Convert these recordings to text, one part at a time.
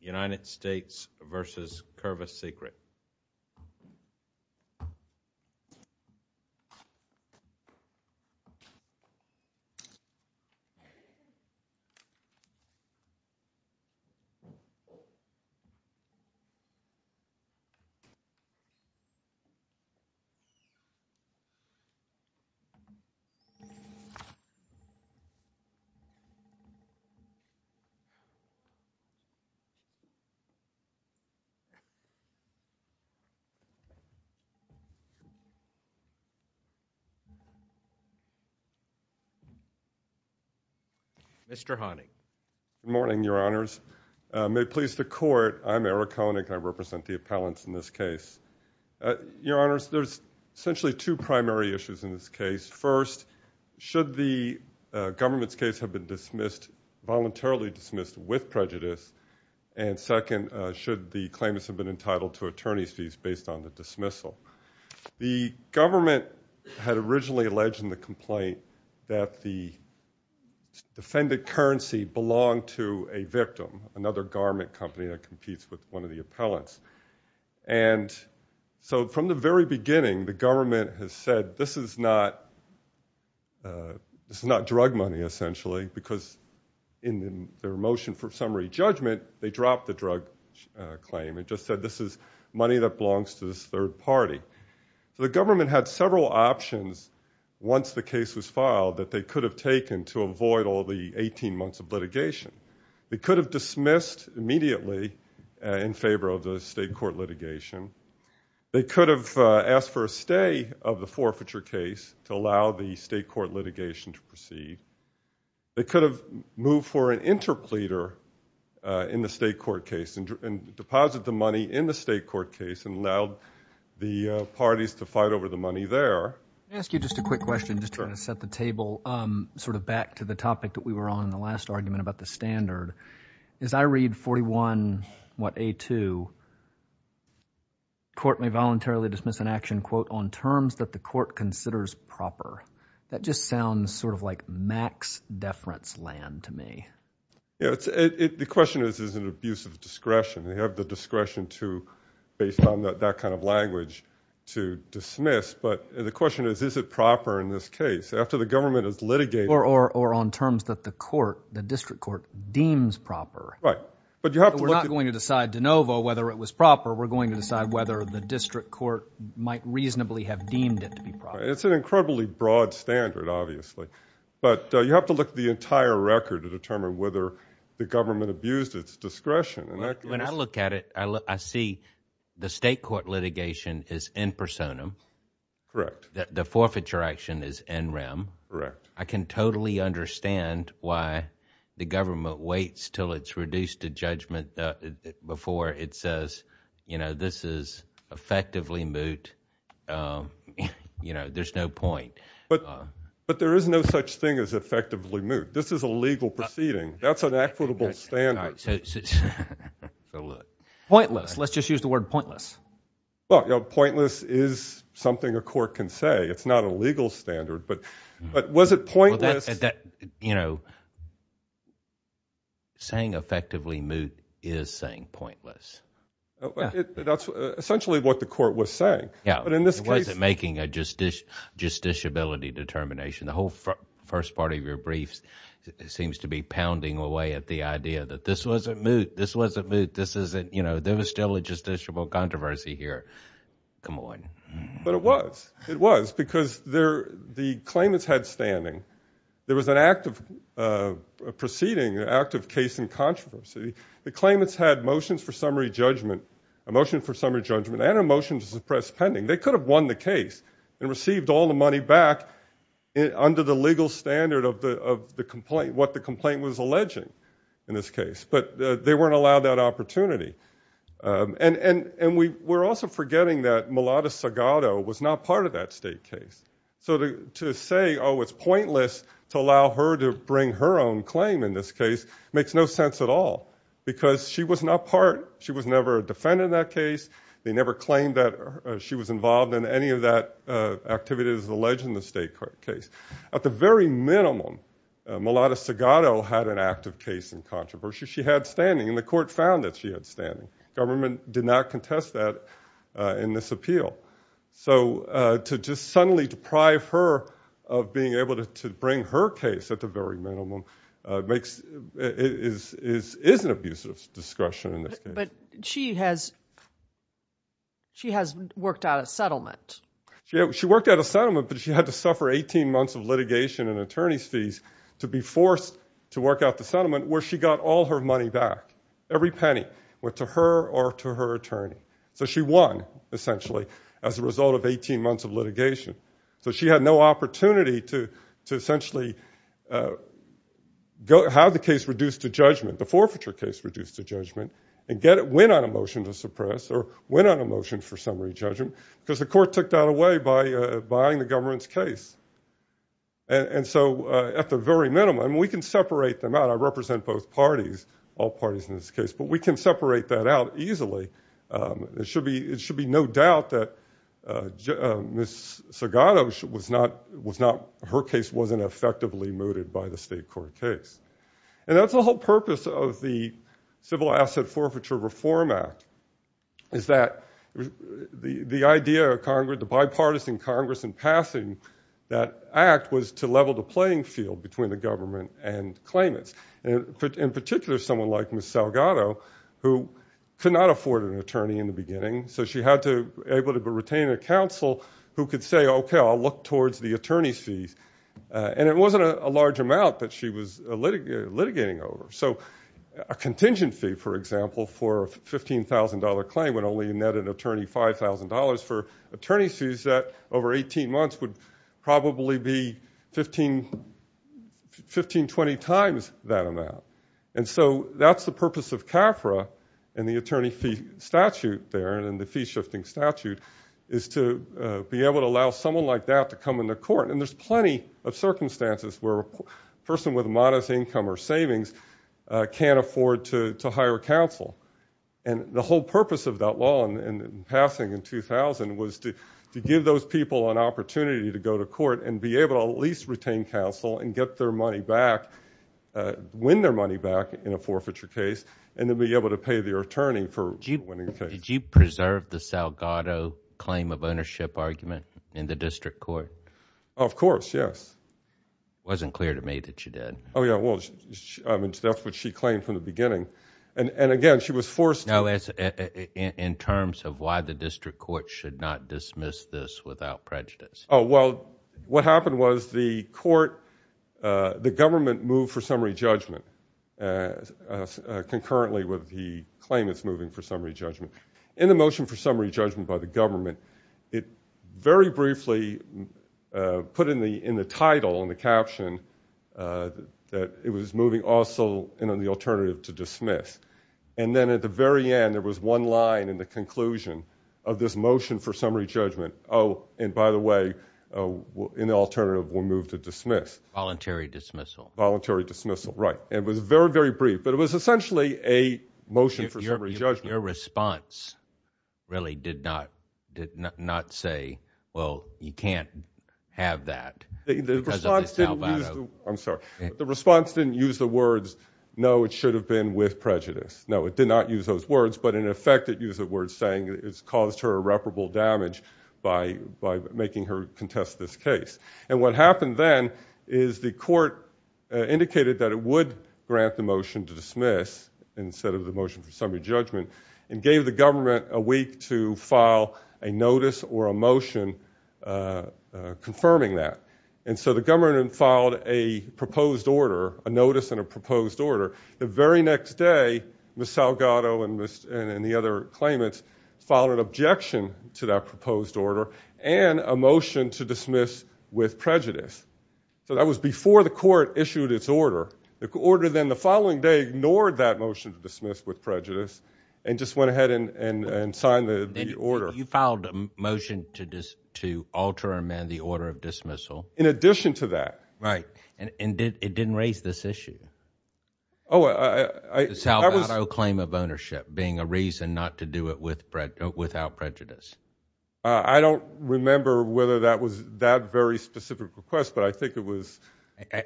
United States v. Kurvas Secret Good morning, Your Honors. May it please the Court, I'm Eric Honig. I represent the appellants in this case. Your Honors, there's essentially two primary issues in this case. First, should the government's case have been voluntarily dismissed with prejudice, and second, should the claimants have been entitled to attorney's fees based on the dismissal. The government had originally alleged in the complaint that the defended currency belonged to a victim, another garment company that competes with one of the appellants. And so from the very beginning, the government has said this is not drug money, essentially, because in their motion for summary judgment, they dropped the drug claim and just said this is money that belongs to this third party. So the government had several options once the case was filed that they could have taken to avoid all the 18 months of litigation. They could have dismissed immediately in favor of the state court litigation. They could have asked for a stay of the forfeiture case to allow the state court litigation to proceed. They could have moved for an interpleader in the state court case and deposited the money in the state court case and allowed the parties to fight over the money there. Can I ask you just a quick question just to kind of set the table sort of back to the topic that we were on in the last argument about the standard. As I read 41, what, A2, court may voluntarily dismiss an action, quote, on terms that the court considers proper. That just sounds sort of like max deference land to me. The question is, is it an abuse of discretion? They have the discretion to, based on that kind of language, to dismiss. But the question is, is it proper in this case? After the government has litigated. Or on terms that the court, the district court, deems proper. Right. But we're not going to decide de novo whether it was proper. We're going to decide whether the district court might reasonably have deemed it to be proper. It's an incredibly broad standard, obviously. But you have to look at the entire record to determine whether the government abused its discretion. When I look at it, I see the state court litigation is in personam. Correct. The forfeiture action is in rem. Correct. I can totally understand why the government waits till it's reduced to judgment before it says, you know, this is effectively moot. You know, there's no point. But there is no such thing as effectively moot. This is a legal proceeding. That's an equitable standard. Pointless. Let's just use the word pointless. Well, you know, pointless is something a court can say. It's not a legal standard. But was it pointless? You know, saying effectively moot is saying pointless. That's essentially what the court was saying. Yeah. But in this case. It wasn't making a justiciability determination. The whole first part of your briefs seems to be pounding away at the idea that this wasn't moot. This wasn't moot. This isn't, you know, there was still a controversy here. Come on. But it was. It was because the claimants had standing. There was an active proceeding, an active case in controversy. The claimants had motions for summary judgment, a motion for summary judgment and a motion to suppress pending. They could have won the case and received all the money back under the legal standard of the complaint, what the complaint was alleging in this case. But they weren't allowed that opportunity. And we're also forgetting that Melati Sagato was not part of that state case. So to say, oh, it's pointless to allow her to bring her own claim in this case makes no sense at all. Because she was not part. She was never a defendant in that case. They never claimed that she was involved in any of that activity that is alleged in the state case. At the very minimum, Melati Sagato had an active case in controversy. She had standing and the court found that she had standing. Government did not contest that in this appeal. So to just suddenly deprive her of being able to bring her case at the very minimum makes, is an abusive discretion in this case. But she has, she has a settlement that she had to suffer 18 months of litigation and attorney's fees to be forced to work out the settlement where she got all her money back. Every penny went to her or to her attorney. So she won, essentially, as a result of 18 months of litigation. So she had no opportunity to essentially have the case reduced to judgment, the forfeiture case reduced to judgment, and get a win on a motion to suppress or win on a motion for summary judgment. Because the court took that away by buying the government's case. And so at the very minimum, we can separate them out. I represent both parties, all parties in this case, but we can separate that out easily. It should be, it should be no doubt that Ms. Sagato was not, was not, her case wasn't effectively mooted by the state court case. And that's the whole purpose of the Civil Asset Forfeiture Reform Act, is that the idea of Congress, the bipartisan Congress in passing that act, was to level the playing field between the government and claimants. And in particular, someone like Ms. Sagato, who could not afford an attorney in the beginning, so she had to, able to retain a counsel who could say, okay, I'll look towards the attorney's fees. And it wasn't a large amount that she was litigating over. So a contingent fee, for example, for a $15,000 claim when only a net attorney $5,000 for attorney's fees, that over 18 months would probably be 15, 15, 20 times that amount. And so that's the purpose of CAFRA and the attorney fee statute there, and the fee shifting statute, is to be able to allow someone like that to come into court. And there's plenty of circumstances where a person with a modest income or savings can't afford to hire counsel. And the whole purpose of that law in passing in 2000 was to give those people an opportunity to go to court and be able to at least retain counsel and get their money back, win their money back in a forfeiture case, and to be able to pay their attorney for winning the case. Did you preserve the Sagato claim of ownership argument in the district court? Of course, yes. Wasn't clear to me that you did. Oh yeah, well, that's what she claimed from the beginning. And again, she was forced to... No, in terms of why the district court should not dismiss this without prejudice. Oh, well, what happened was the court, the government moved for summary judgment, concurrently with the claim it's moving for summary judgment. In the motion for summary judgment by the government, it very that it was moving also in on the alternative to dismiss. And then at the very end, there was one line in the conclusion of this motion for summary judgment, oh, and by the way, in the alternative were moved to dismiss. Voluntary dismissal. Voluntary dismissal, right. It was very, very brief, but it was essentially a motion for summary judgment. Your response really did not say, well, you can't have that. The response didn't use the words, no, it should have been with prejudice. No, it did not use those words, but in effect, it used a word saying it's caused her irreparable damage by making her contest this case. And what happened then is the court indicated that it would grant the motion to dismiss instead of the motion for summary judgment and gave the government a motion confirming that. And so the government filed a proposed order, a notice and a proposed order. The very next day, Ms. Salgado and the other claimants filed an objection to that proposed order and a motion to dismiss with prejudice. So that was before the court issued its order. The order then the following day ignored that motion to dismiss with prejudice and just went ahead and signed the order. You filed a motion to just to alter or amend the order of dismissal. In addition to that. Right. And it didn't raise this issue. Salvato claim of ownership being a reason not to do it without prejudice. I don't remember whether that was that very specific request, but I think it was.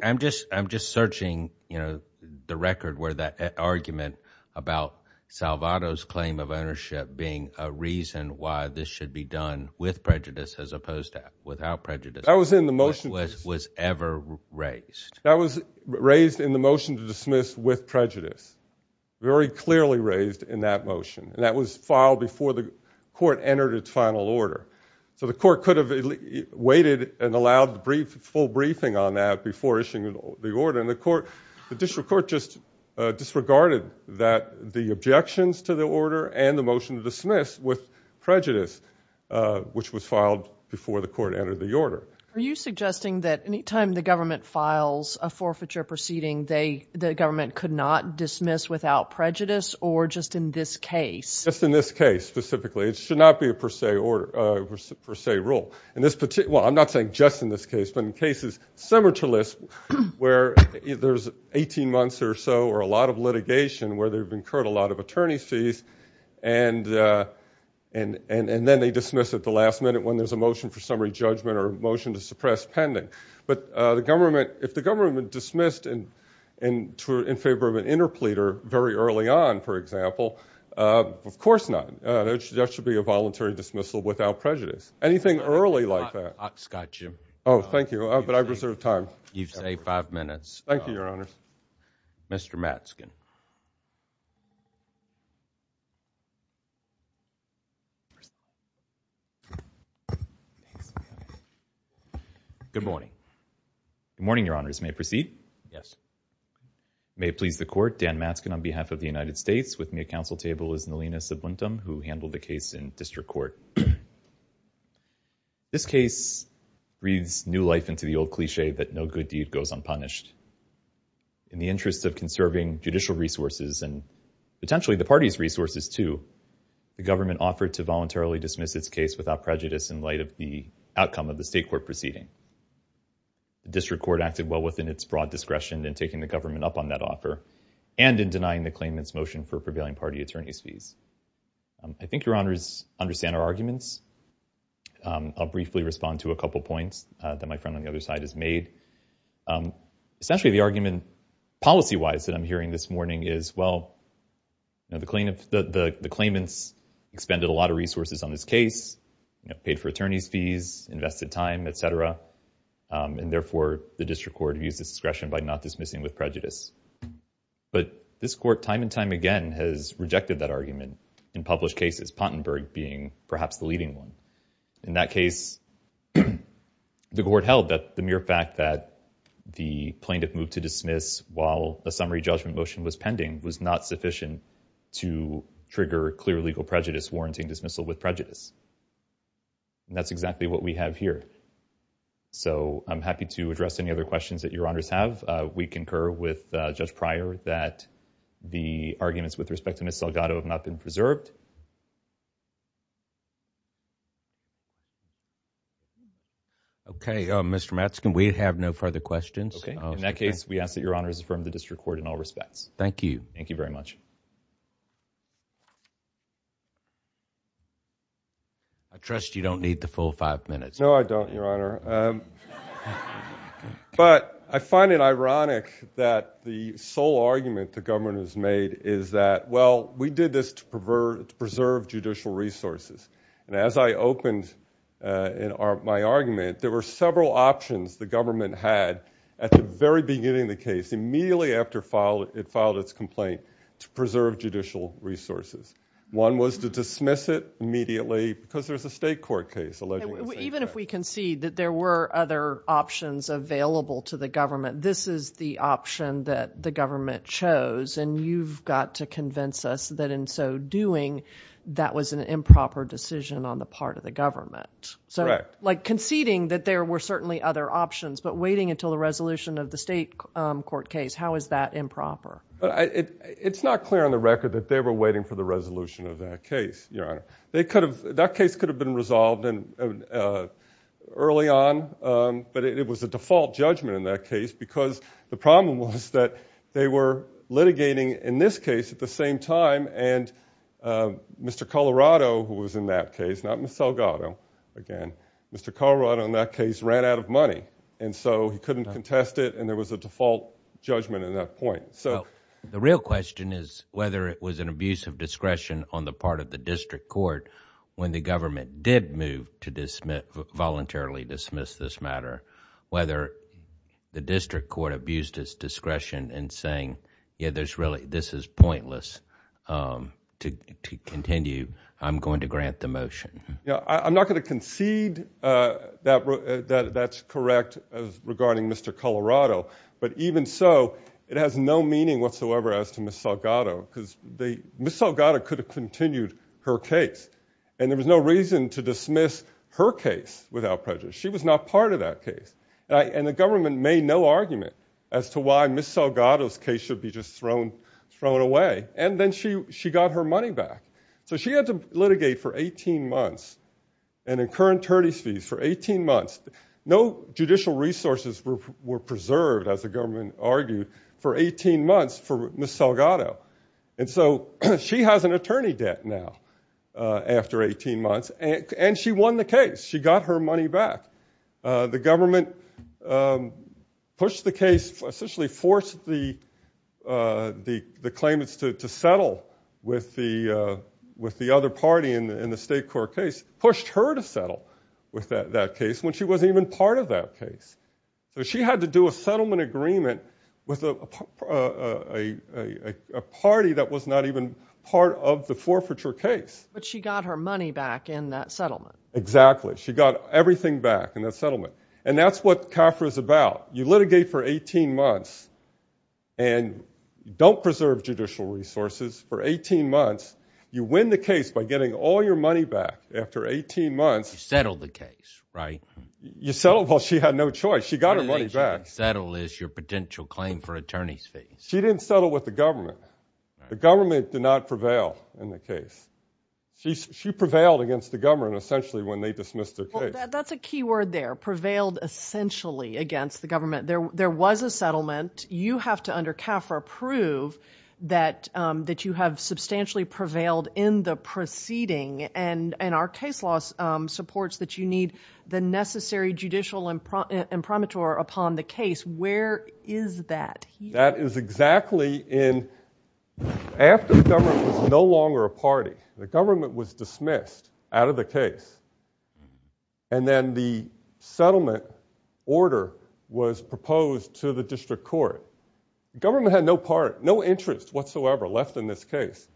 I'm just I'm just searching, you know, the record where that claim of ownership being a reason why this should be done with prejudice as opposed to without prejudice. I was in the motion was was ever raised. That was raised in the motion to dismiss with prejudice. Very clearly raised in that motion. And that was filed before the court entered its final order. So the court could have waited and allowed the brief full briefing on that before issuing the order in the court. The district court just disregarded that the objections to the order and the motion to dismiss with prejudice, which was filed before the court entered the order. Are you suggesting that any time the government files a forfeiture proceeding, they the government could not dismiss without prejudice or just in this case? Just in this case, specifically, it should not be a per se or per se rule. And this particular I'm not saying just in this case, but in cases similar to this where there's 18 months or so or a lot of litigation where they've incurred a lot of attorney's fees and and and then they dismiss at the last minute when there's a motion for summary judgment or motion to suppress pending. But the government if the government dismissed and and in favor of an interpleader very early on, for example, of course not. That should be a voluntary dismissal without prejudice. Anything early like that. I've got you. Oh, thank you. But I reserve time. You say five minutes. Thank you, Your Honor. Mr. Matzkin. Good morning. Good morning, Your Honors. May I proceed? Yes. May it please the court. Dan Matzkin on behalf of the United States with me at council table is Nalina Subbuntum, who handled the case in district court. This case reads new life into the old cliche that no good deed goes unpunished. In the interest of conserving judicial resources and potentially the party's resources, too, the government offered to voluntarily dismiss its case without prejudice in light of the outcome of the state court proceeding. The district court acted well within its broad discretion in taking the government up on that offer and in denying the claimant's motion for prevailing party attorney's fees. I think Your Honors understand our arguments. I'll briefly respond to a couple points that my friend on the other side has made. Essentially, the argument policy-wise that I'm hearing this morning is, well, the claimants expended a lot of resources on this case, paid for attorney's fees, invested time, et cetera, and therefore the district court used its discretion by not dismissing with prejudice. But this court time and time again has rejected that argument in published cases, Pottenberg being perhaps the leading one. In that case, the court held that the mere fact that the plaintiff moved to dismiss while a summary judgment motion was pending was not sufficient to trigger clear legal prejudice warranting dismissal with prejudice. And that's exactly what we have here. So I'm happy to address any other questions that Your Honors have. We concur with Judge Pryor that the arguments with respect to Ms. Salgado have not been preserved. Okay, Mr. Matzkin, we have no further questions. Okay. In that case, we ask that Your Honors affirm the district court in all respects. Thank you. Thank you very much. I trust you don't need the full five minutes. No, I don't, Your Honor. But I find it ironic that the sole argument the government has made is that, well, we did this to preserve judicial resources. And as I opened my argument, there were several options the government had at the very beginning of the case, immediately after it filed its complaint to preserve judicial resources. One was to dismiss it immediately because there's a state court case alleging the same thing. Even if we concede that there were other options available to the government, this is the option that the government chose. And you've got to convince us that in so doing, that was an improper decision on the part of the government. Correct. So like conceding that there were certainly other options, but waiting until the resolution of the state court case, how is that improper? It's not clear on the record that they were waiting for the resolution of that case, Your Honor. That case could have been resolved early on, but it was a default judgment in that case because the problem was that they were litigating in this case at the same time, and Mr. Colorado, who was in that case, not Ms. Salgado, again, Mr. Colorado in that case ran out of money. And so he couldn't contest it, and there was a default judgment at that point. The real question is whether it was an abuse of discretion on the part of the district court when the government did move to voluntarily dismiss this matter, whether the district court abused its discretion in saying, yeah, this is pointless to continue. I'm going to grant the motion. Yeah, I'm not going to concede that that's correct regarding Mr. Colorado, but even so, it has no meaning whatsoever as to Ms. Salgado, because Ms. Salgado could have continued her case, and there was no reason to dismiss her case without prejudice. She was not part of that case, and the government made no argument as to why Ms. Salgado's case should be just thrown away, and then she got her money back. So she had to litigate for 18 months, and in current for 18 months for Ms. Salgado. And so she has an attorney debt now after 18 months, and she won the case. She got her money back. The government pushed the case, essentially forced the claimants to settle with the other party in the state court case, pushed her to settle with that case when she wasn't even part of that case. So she had to do a settlement agreement with a party that was not even part of the forfeiture case. But she got her money back in that settlement. Exactly. She got everything back in that settlement, and that's what CAFRA is about. You litigate for 18 months and don't preserve judicial resources for 18 months. You win the case by getting all your money back after 18 months. You settled the case, right? You settled while she had no choice. She got her money back. Settle is your potential claim for attorney's fees. She didn't settle with the government. The government did not prevail in the case. She prevailed against the government essentially when they dismissed the case. That's a key word there, prevailed essentially against the government. There was a settlement. You have to, under CAFRA, prove that you have substantially prevailed in the proceeding, and our case law supports that you need the necessary judicial imprimatur upon the case. Where is that? That is exactly in after the government was no longer a party. The government was dismissed out of the case, and then the settlement order was proposed to the district court. The government had no interest whatsoever left in this case,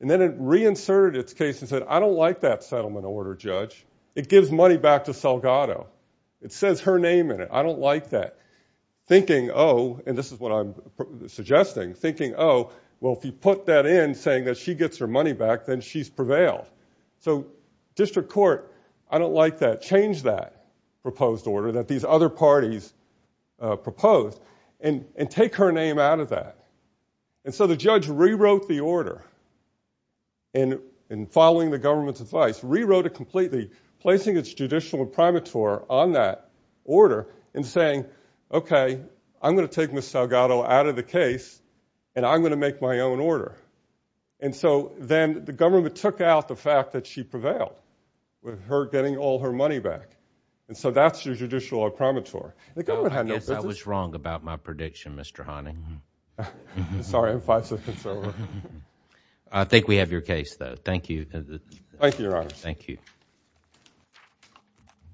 and then it reinserted its case and said, I don't like that settlement order, Judge. It gives money back to Salgado. It says her name in it. I don't like that. Thinking, oh, and this is what I'm suggesting, thinking, oh, well, if you put that in saying that she gets her money back, then she's prevailed. So district court, I don't like that. Change that proposed order that these other parties proposed and take her name out of that. And so the judge rewrote the order and, following the government's advice, rewrote it completely, placing its judicial imprimatur on that order and saying, okay, I'm going to take Ms. Salgado out of the case, and I'm going to make my own order. And so then the government took out the fact that she prevailed with her getting all her money back. And so that's your judicial imprimatur. I guess I was wrong about my prediction, Mr. Honey. I'm sorry. I'm five seconds over. I think we have your case, though. Thank you. Thank you, Your Honors. Thank you.